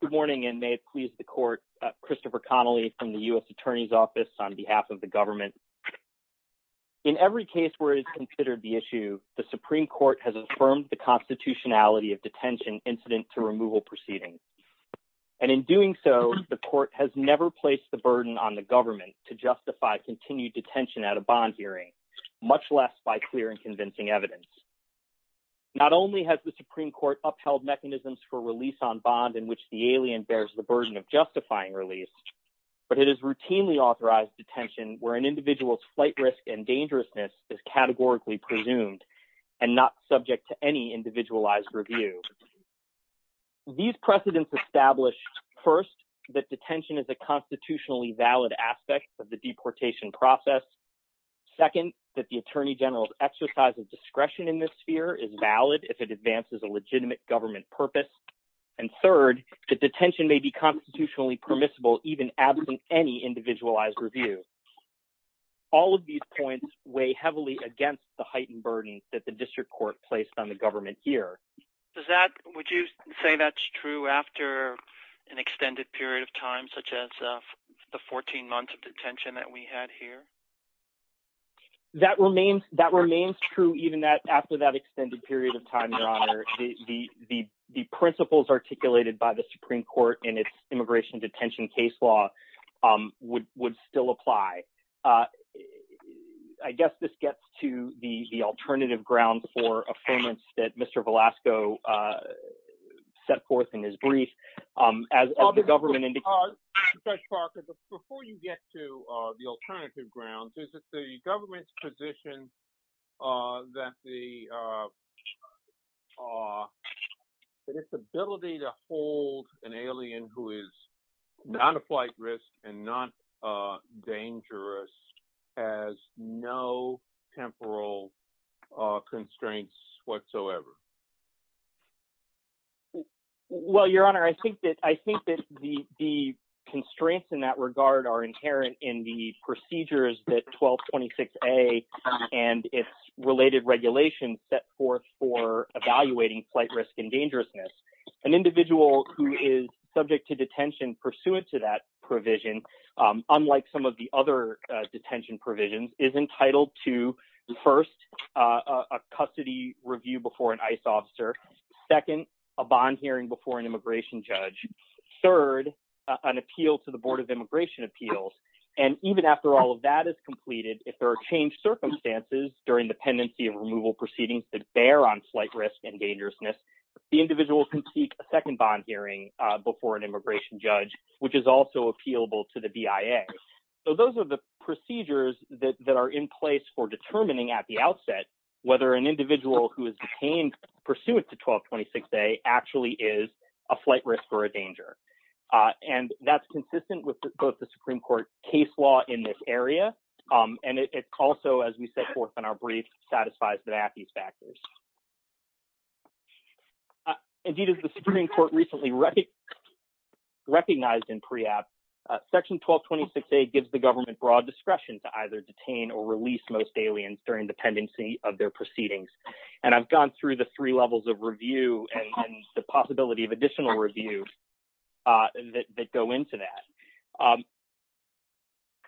Good morning and may it please the court, Christopher Connolly from the U.S. Attorney's Office on behalf of the government. In every case where it is considered the issue, the Supreme Court has affirmed the constitutionality of detention incident to removal proceedings. And in doing so, the court has never placed the burden on the government to justify continued detention at a bond hearing, much less by clear and convincing evidence. Not only has the Supreme Court upheld mechanisms for release on bond in which the alien bears the burden of justifying release, but it is routinely authorized detention where an individual's flight risk and dangerousness is categorically presumed and not subject to any individualized review. These precedents establish, first, that detention is a constitutionally valid aspect of the deportation process, second, that the Attorney General's exercise of discretion in this sphere is valid if it advances a legitimate government purpose, and third, that detention may be constitutionally permissible even absent any individualized review. All of these points weigh heavily against the heightened burdens that the district court placed on the government here. Christopher Connolly Does that, would you say that's true after an extended period of time, such as the 14 months of detention that we had here? Michael McGill That remains true even after that extended period of time, Your Honor. The principles articulated by the Supreme Court in its immigration detention case law would still apply. I guess this gets to the alternative grounds for affirmance that Mr. Velasco set forth in his brief, as the government indicated. Christopher Connolly Judge Parker, before you get to the alternative grounds, is it the government's position that the, that its ability to hold an alien who is not a flight risk and not dangerous has no temporal constraints whatsoever? Michael McGill Well, Your Honor, I think that the constraints in that regard are inherent in the procedures that 1226A and its related regulations set forth for evaluating flight risk and dangerousness. An individual who is subject to detention pursuant to that provision, unlike some of the other detention provisions, is entitled to, first, a custody review before an ICE officer, second, a bond hearing before an immigration judge, third, an appeal to the Board of Immigration Appeals. And even after all of that is completed, if there are changed circumstances during the pendency and removal proceedings that bear on flight risk and dangerousness, the individual can seek a second bond hearing before an immigration judge, which is also appealable to the BIA. So those are the procedures that are in place for determining at the outset whether an individual who is detained pursuant to 1226A actually is a flight risk or a danger. And that's consistent with both the Supreme Court case law in this area, and it also, as we set forth in our brief, satisfies that these factors. Indeed, as the Supreme Court recently recognized in PREACT, Section 1226A gives the government broad discretion to either detain or release most aliens during the pendency of their proceedings. And I've gone through the three levels of review and the possibility of additional review that go into that.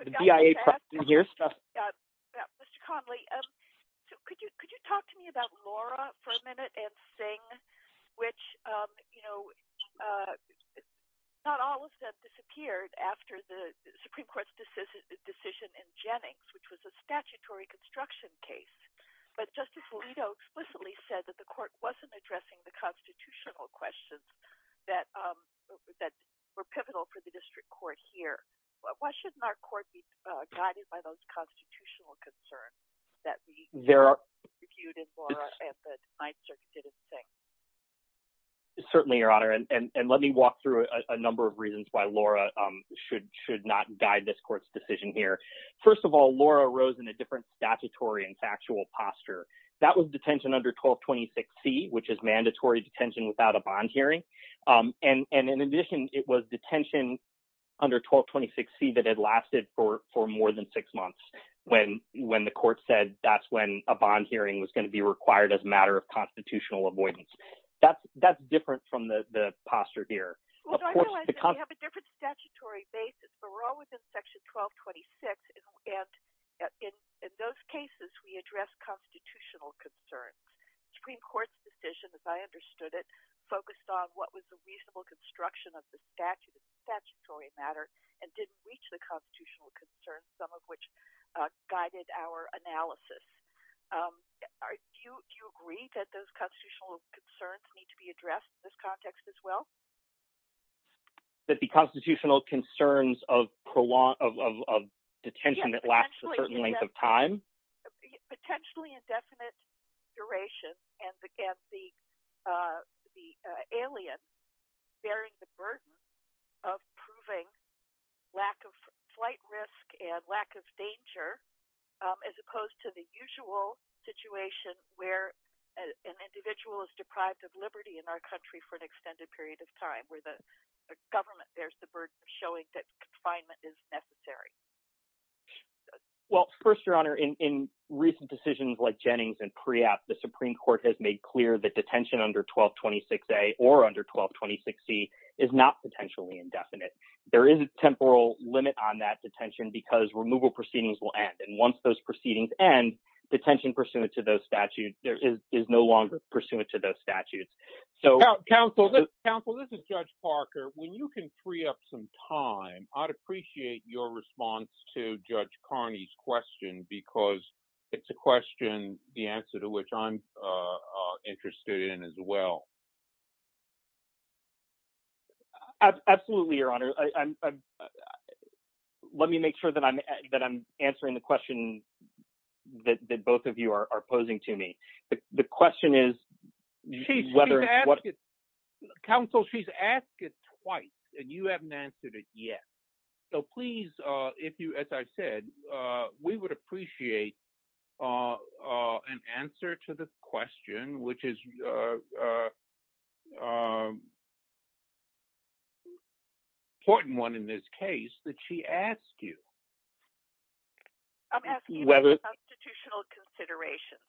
Could you talk to me about Laura for a minute and Singh, which, you know, not all of them disappeared after the Supreme Court's decision in Jennings, which was a statutory construction case. But Justice Alito explicitly said that the Court wasn't addressing the constitutional questions that were pivotal for the District Court here. Why shouldn't our Court be guided by those constitutional concerns that we reviewed in Laura and that NYSERC didn't think? Certainly, Your Honor, and let me walk through a number of reasons why Laura should not guide this Court's decision here. First of all, Laura rose in a different statutory and factual posture. That was detention under 1226C, which is mandatory detention without a bond hearing. And in addition, it was detention under 1226C that had lasted for more than six months when the Court said that's when a bond hearing was going to be required as a matter of constitutional avoidance. That's different from the posture here. I realize that we have a different statutory basis, but we're all within Section 1226, and in those cases, we address constitutional concerns. The Supreme Court's decision, as I understood it, focused on what was the reasonable construction of the statute as a statutory matter and didn't reach the constitutional concerns, some of which guided our analysis. Do you agree that those constitutional concerns need to be addressed in this context as well? That the constitutional concerns of detention that lasts a certain length of time? Potentially indefinite duration and the alien bearing the burden of proving lack of flight risk and lack of danger, as opposed to the usual situation where an individual is deprived of liberty in our country for an extended period of time, where the government bears the burden of showing that confinement is necessary? Well, first, Your Honor, in recent decisions like Jennings and Priatt, the Supreme Court has made clear that detention under 1226A or under 1226C is not potentially indefinite. There is a temporal limit on that detention because removal proceedings will end, and once those proceedings end, detention pursuant to those statutes is no longer pursuant to those statutes. Counsel, this is Judge Parker. When you can free up some time, I'd appreciate your response to Judge Carney's question, because it's a question, the answer to which I'm interested in as well. Absolutely, Your Honor. Let me make sure that I'm answering the question that both of you are posing to me. The question is whether— Counsel, she's asked it twice, and you haven't answered it yet. So please, if you, as I said, we would appreciate an answer to this question, which is an important one in this case that she asked you. I'm asking about constitutional considerations.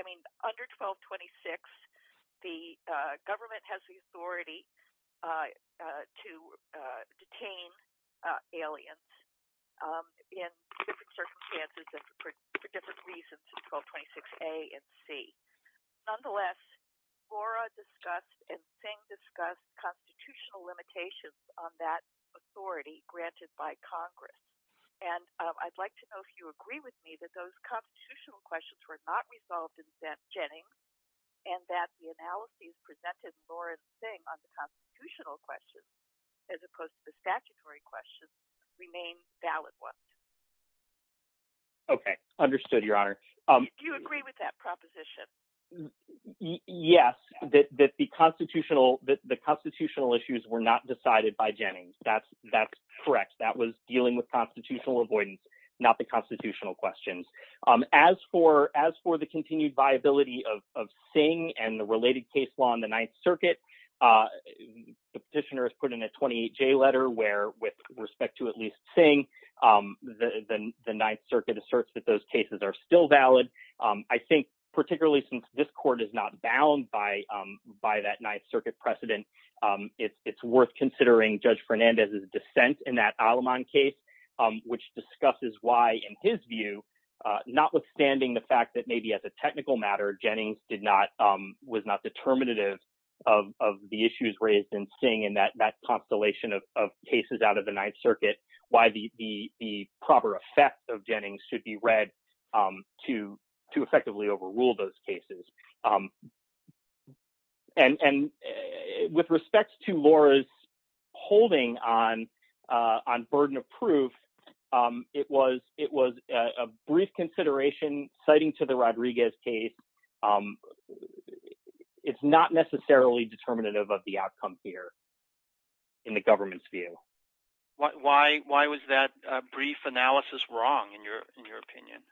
I mean, under 1226, the government has the authority to detain aliens in different circumstances and for different reasons in 1226A and C. Nonetheless, Flora discussed and Singh discussed constitutional limitations on that authority granted by Congress, and I'd like to know if you agree with me that those constitutional questions were not resolved in Jennings and that the analyses presented by Flora and Singh on the constitutional questions, as opposed to the statutory questions, remain valid ones. Okay. Understood, Your Honor. Do you agree with that proposition? Yes, that the constitutional issues were not decided by Jennings. That's correct. That was dealing with constitutional avoidance, not the constitutional questions. As for the continued viability of Singh and the related case law in the Ninth Circuit, the petitioner has put in a 28-J letter where, with respect to at least Singh, the Ninth Circuit asserts that those cases are still valid. I think, particularly since this court is not bound by that Ninth Circuit precedent, it's worth considering Judge Fernandez's dissent in that Aleman case, which discusses why, in his view, notwithstanding the fact that maybe as a technical matter Jennings was not determinative of the issues raised in Singh and that constellation of cases out of the Ninth Circuit, why the proper effect of Jennings should be read to effectively overrule those cases. And with respect to Laura's holding on burden of proof, it was a brief consideration, citing to the Rodriguez case, it's not necessarily determinative of the outcome here in the government's view. Why was that brief analysis wrong, in your opinion?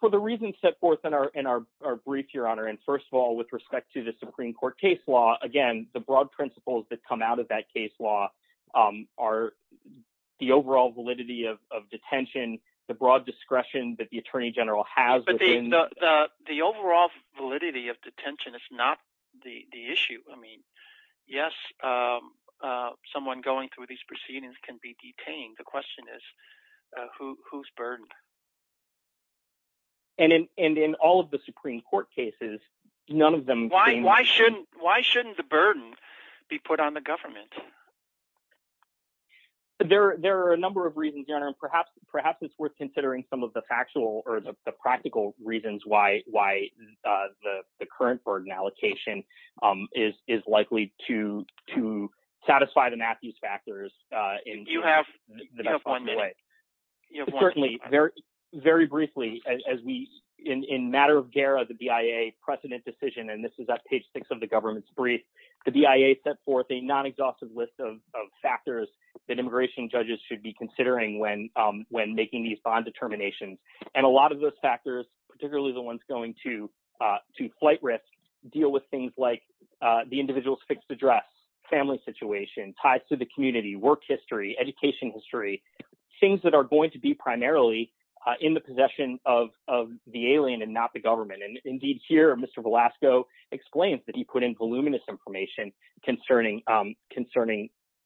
For the reasons set forth in our brief, Your Honor, and, first of all, with respect to the Supreme Court case law, again, the broad principles that come out of that case law are the overall validity of detention, the broad discretion that the Attorney General has. But the overall validity of detention is not the issue. I mean, yes, someone going through these proceedings can be detained. The question is, who's burdened? And in all of the Supreme Court cases, none of them… Why shouldn't the burden be put on the government? There are a number of reasons, Your Honor, and perhaps it's worth considering some of the You have one minute. Certainly. Very briefly, in matter of gara, the BIA precedent decision, and this is at page six of the government's brief, the BIA set forth a non-exhaustive list of factors that immigration judges should be considering when making these bond determinations. And a lot of those factors, particularly the ones going to flight risk, deal with things like the individual's fixed address, family situation, ties to the community, work history, education history, things that are going to be primarily in the possession of the alien and not the government. And indeed, here, Mr. Velasco explains that he put in voluminous information concerning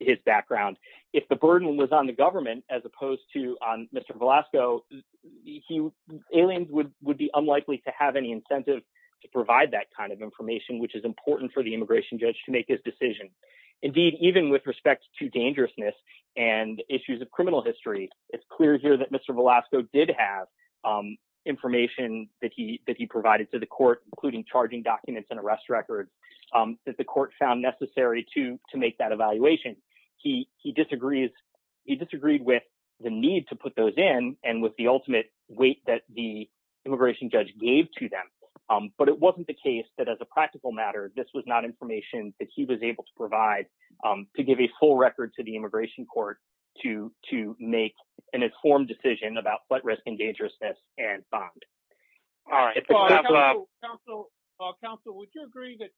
his background. If the burden was on the government as opposed to Mr. Velasco, aliens would be unlikely to have any incentive to provide that kind of information, which is important for the immigration judge to make his decision. Indeed, even with respect to dangerousness and issues of criminal history, it's clear here that Mr. Velasco did have information that he provided to the court, including charging documents and arrest record that the court found necessary to make that evaluation. He disagrees. He disagreed with the need to put those in and with the ultimate weight that the immigration judge gave to them. But it wasn't the case that as a practical matter, this was not information that he was able to provide to give a full record to the immigration court to make an informed decision about flight risk and dangerousness and bond. All right. Counsel, would you agree that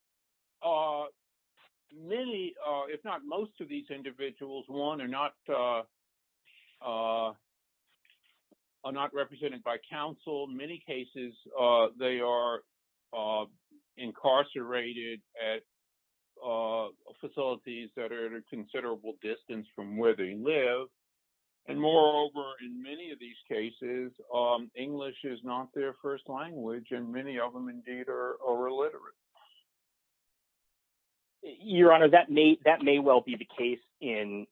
many, if not most of these individuals, one, are not represented by counsel. In many cases, they are incarcerated at facilities that are at a considerable distance from where they live. And moreover, in many of these cases, English is not their first language, and many of them indeed are illiterate. Your Honor, that may well be the case in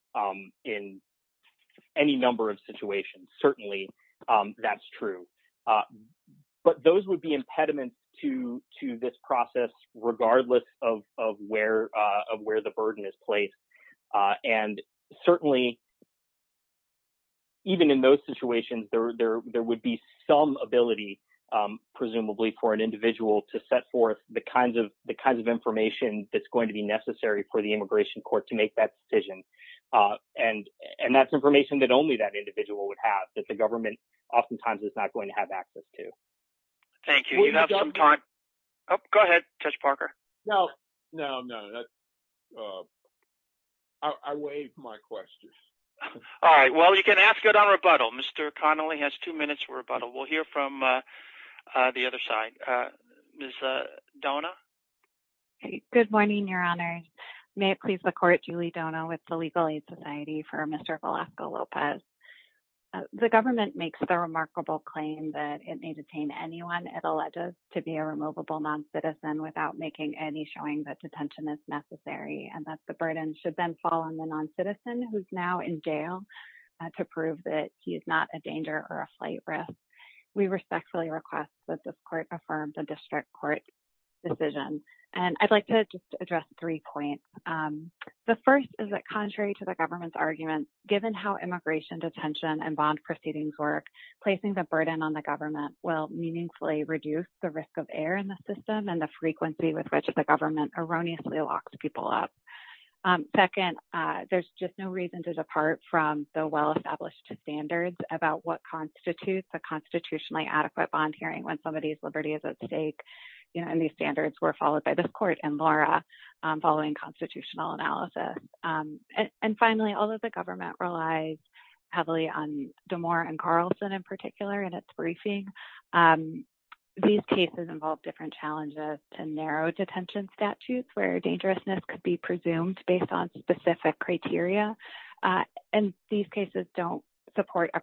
any number of situations. Certainly, that's true. But those would be impediments to this process, regardless of where the burden is placed. And certainly, even in those situations, there would be some ability, presumably, for an individual to set forth the kinds of information that's going to be necessary for the immigration court to make that decision. And that's information that only that individual would have, that the government oftentimes is not going to have access to. Thank you. You have some time. Go ahead, Judge Parker. No, no, no. I waive my questions. All right. Well, you can ask it on rebuttal. Mr. Kahn only has two minutes for rebuttal. We'll hear from the other side. Ms. Donah? Good morning, Your Honor. May it please the Court, Julie Donah with the Legal Aid Society for Mr. Velasco-Lopez. The government makes the remarkable claim that it may detain anyone it alleges to be a removable noncitizen without making any showing that detention is necessary, and that the burden should then fall on the respectfully request that this Court affirm the district court decision. And I'd like to just address three points. The first is that contrary to the government's argument, given how immigration detention and bond proceedings work, placing the burden on the government will meaningfully reduce the risk of error in the system and the frequency with which the government erroneously locks people up. Second, there's just no reason to depart from the well-established standards about what a constitutionally adequate bond hearing when somebody's liberty is at stake. You know, and these standards were followed by this Court and Laura following constitutional analysis. And finally, although the government relies heavily on Damore and Carlson in particular in its briefing, these cases involve different challenges and narrow detention statutes where dangerousness could be presumed based on specific criteria. And these cases don't support a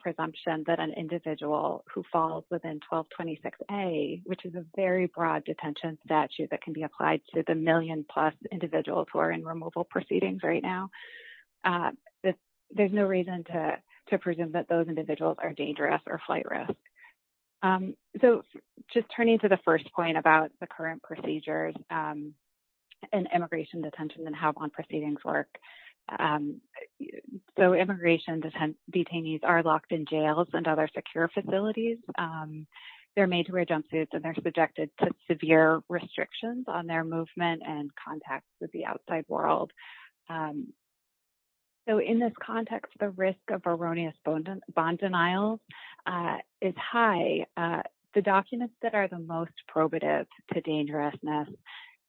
individual who falls within 1226A, which is a very broad detention statute that can be applied to the million-plus individuals who are in removable proceedings right now. There's no reason to presume that those individuals are dangerous or flight risk. So just turning to the first point about the current procedures in immigration detention and how bond proceedings work, so immigration detainees are locked in jails and other secure facilities. They're made to wear jumpsuits and they're subjected to severe restrictions on their movement and contact with the outside world. So in this context, the risk of erroneous bond denials is high. The documents that are the most probative to dangerousness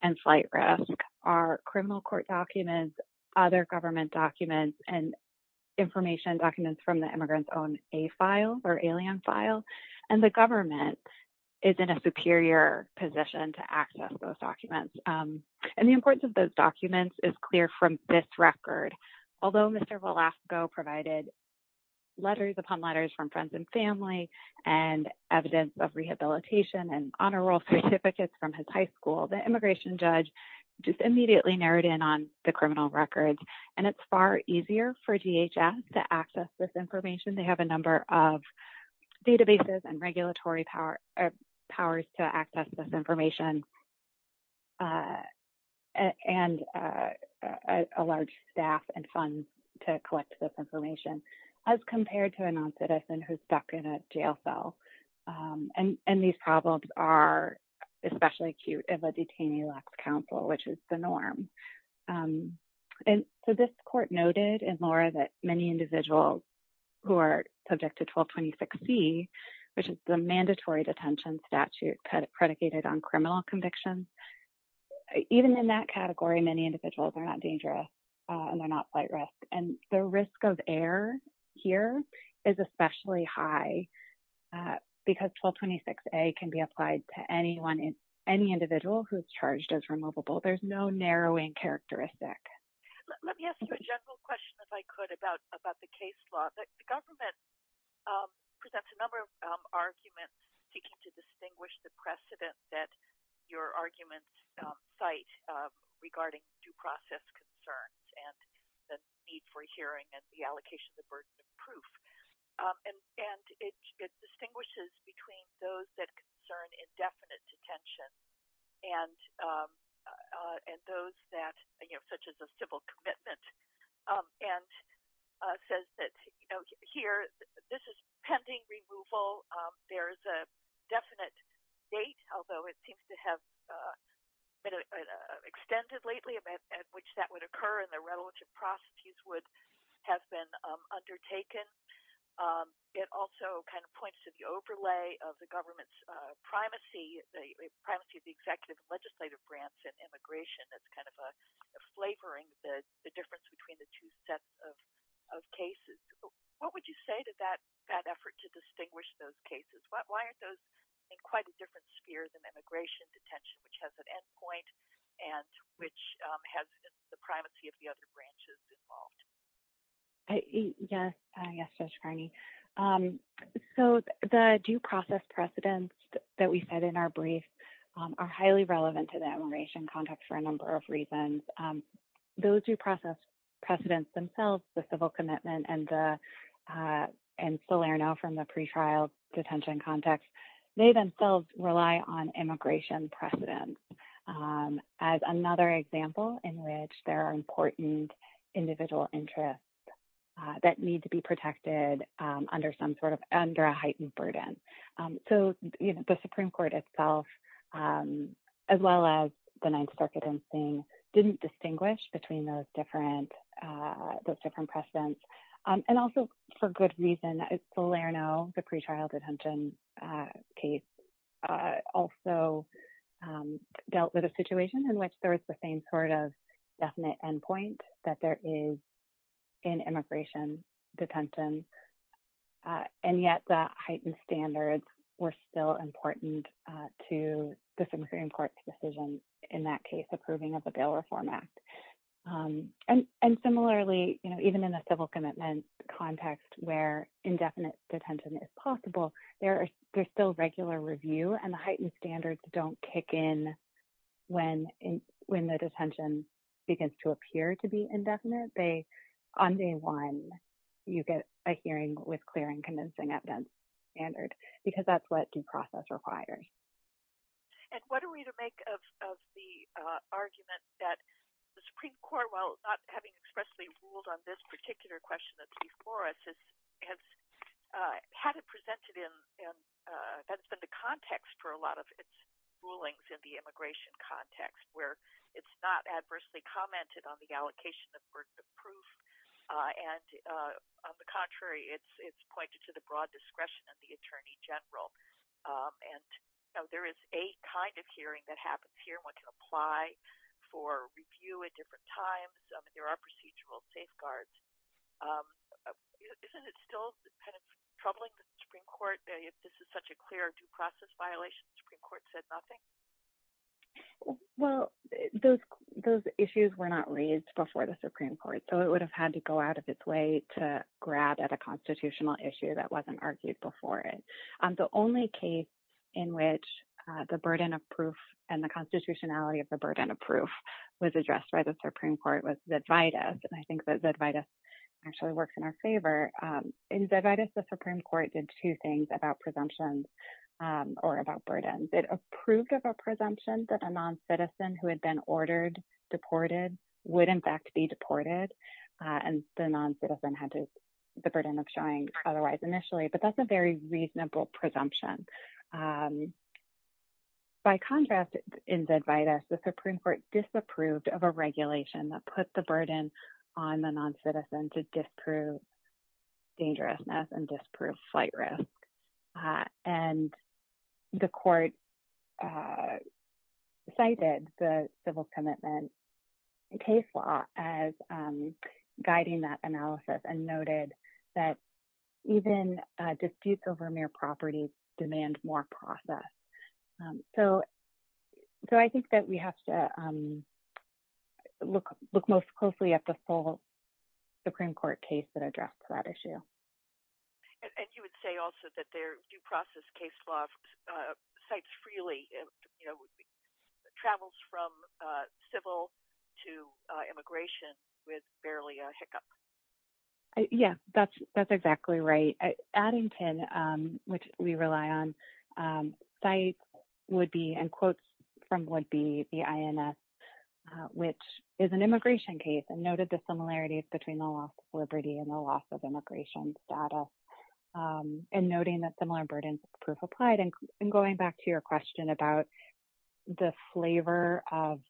and flight risk are criminal court documents, other government documents, and information documents from the immigrant's own A-file or alien file. And the government is in a superior position to access those documents. And the importance of those documents is clear from this record. Although Mr. Velasco provided letters upon letters from friends and family and evidence of rehabilitation and honor roll certificates from his high school, the immigration judge just immediately narrowed in on the criminal records. And it's far easier for DHS to access this information. They have a number of databases and regulatory powers to access this information and a large staff and funds to collect this information as compared to a non-citizen who's stuck in a jail cell. And these problems are especially acute if a detainee lacks counsel, which is the norm. And so this court noted, and Laura, that many individuals who are subject to 1226C, which is the mandatory detention statute predicated on criminal convictions, even in that category, many individuals are not dangerous and they're not flight risk. And the risk of error here is especially high because 1226A can be applied to any individual who's charged as removable. There's no narrowing characteristic. Let me ask you a general question, if I could, about the case law. The government presents a number of arguments seeking to distinguish the precedent that your arguments cite regarding due process concerns and the need for hearing and the allocation of burden of proof. And it distinguishes between those that concern indefinite detention and those that, you know, such as a civil commitment, and says that, you know, here, this is pending removal. There's a extended lately event at which that would occur and the revolution prostitutes would have been undertaken. It also kind of points to the overlay of the government's primacy, the primacy of the executive and legislative grants and immigration that's kind of flavoring the difference between the two sets of cases. What would you say to that effort to distinguish those cases? Why aren't those in quite a different sphere than immigration detention, which has an end point and which has the primacy of the other branches involved? Yes, Judge Kearney. So, the due process precedents that we said in our brief are highly relevant to the immigration context for a number of reasons. Those due process precedents themselves, the civil commitment and Salerno from the pre-trial detention context, they themselves rely on immigration precedents as another example in which there are important individual interests that need to be protected under some sort of under a heightened burden. So, you know, the Supreme Court itself, as well as the Ninth Circuit in seeing didn't distinguish between those different those different precedents. And also, for good reason, Salerno, the pre-trial detention case, also dealt with a situation in which there was the same sort of definite endpoint that there is in immigration detention. And yet, the heightened standards were still important to the Supreme Court's decision in that case approving of the Bail Reform Act. And similarly, you know, even in a civil commitment context where indefinite detention is possible, there's still regular review and the heightened standards don't kick in when the detention begins to appear to be indefinite. On day one, you get a hearing with clear and convincing evidence standard because that's what due process requires. And what are we to make of the argument that the Supreme Court, while not having expressly ruled on this particular question that's before us, has had it presented in, that's been the context for a lot of its rulings in the immigration context, where it's not adversely commented on the allocation of burden of proof. And on the contrary, it's pointed to the broad discretion of the Supreme Court. There is a kind of hearing that happens here. One can apply for review at different times. There are procedural safeguards. Isn't it still kind of troubling that the Supreme Court, if this is such a clear due process violation, the Supreme Court said nothing? Well, those issues were not raised before the Supreme Court, so it would have had to go out of its way to grab at a constitutional issue that only case in which the burden of proof and the constitutionality of the burden of proof was addressed by the Supreme Court was Zedvitas. And I think that Zedvitas actually works in our favor. In Zedvitas, the Supreme Court did two things about presumptions or about burdens. It approved of a presumption that a non-citizen who had been ordered deported would, in fact, be deported. And the non-citizen had the burden of showing otherwise initially. But that's a reasonable presumption. By contrast, in Zedvitas, the Supreme Court disapproved of a regulation that put the burden on the non-citizen to disprove dangerousness and disprove flight risk. And the court cited the civil commitment case law as guiding that analysis and noted that even disputes over mere property demand more process. So I think that we have to look most closely at the full Supreme Court case that addressed that issue. And you would say also that their due process case law cites freely, you know, travels from civil to immigration with barely a hiccup. Yeah, that's exactly right. Adding to which we rely on, sites would be and quotes from would be the INS, which is an immigration case and noted the similarities between the loss of liberty and the loss of immigration status. And noting that similar burdens of proof applied. And going back to your question about the flavor of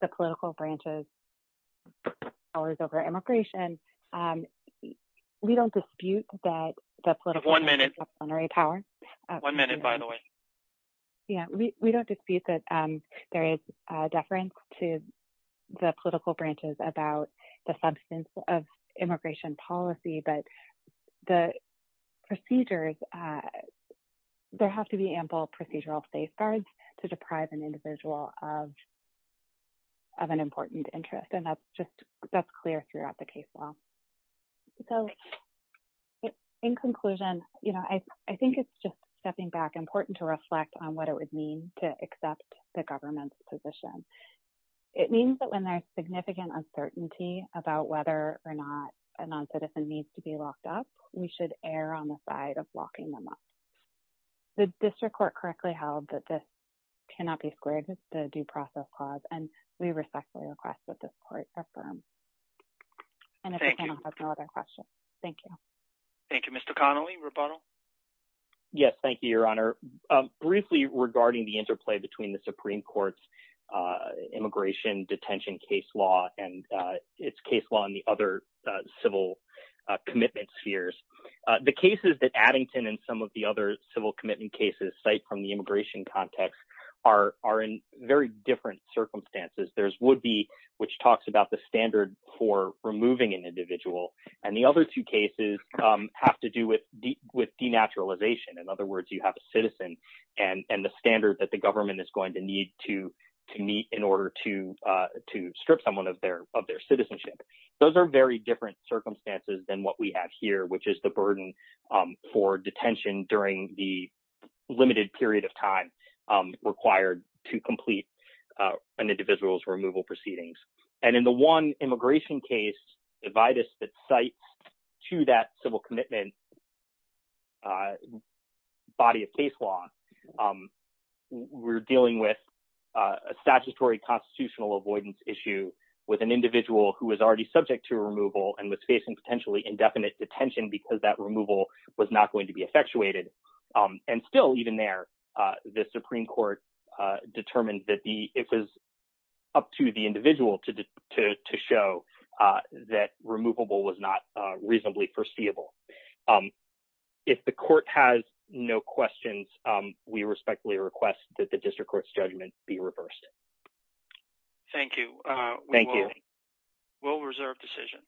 the political branches powers over immigration, we don't dispute that the one minute power. One minute, by the way. Yeah, we don't dispute that there is deference to the political branches about the substance of immigration policy. But the procedures, there have to be ample procedural safeguards to deprive an individual of an important interest. And that's just that's clear throughout the case law. So in conclusion, you know, I think it's just stepping back important to reflect on what it would mean to accept the government's position. It means that there's significant uncertainty about whether or not a non citizen needs to be locked up, we should err on the side of locking them up. The district court correctly held that this cannot be squared with the due process clause. And we respectfully request that this court confirm. And if there's no other questions, thank you. Thank you, Mr. Connelly. Yes, thank you, briefly regarding the interplay between the Supreme Court's immigration detention case law and its case law and the other civil commitments fears. The cases that Addington and some of the other civil commitment cases cite from the immigration context are in very different circumstances. There's would be which talks about the standard for removing an individual. And the citizen and the standard that the government is going to need to meet in order to, to strip someone of their of their citizenship. Those are very different circumstances than what we have here, which is the burden for detention during the limited period of time required to complete an individual's removal proceedings. And in the one immigration case, divide us that site to that civil commitment, body of case law, we're dealing with a statutory constitutional avoidance issue with an individual who was already subject to removal and was facing potentially indefinite detention because that removal was not going to be effectuated. And still, even there, the Supreme Court determined that the it was up to the individual to show that removable was not reasonably foreseeable. If the court has no questions, we respectfully request that the district court's judgment be reversed. Thank you. Thank you. We'll reserve decision.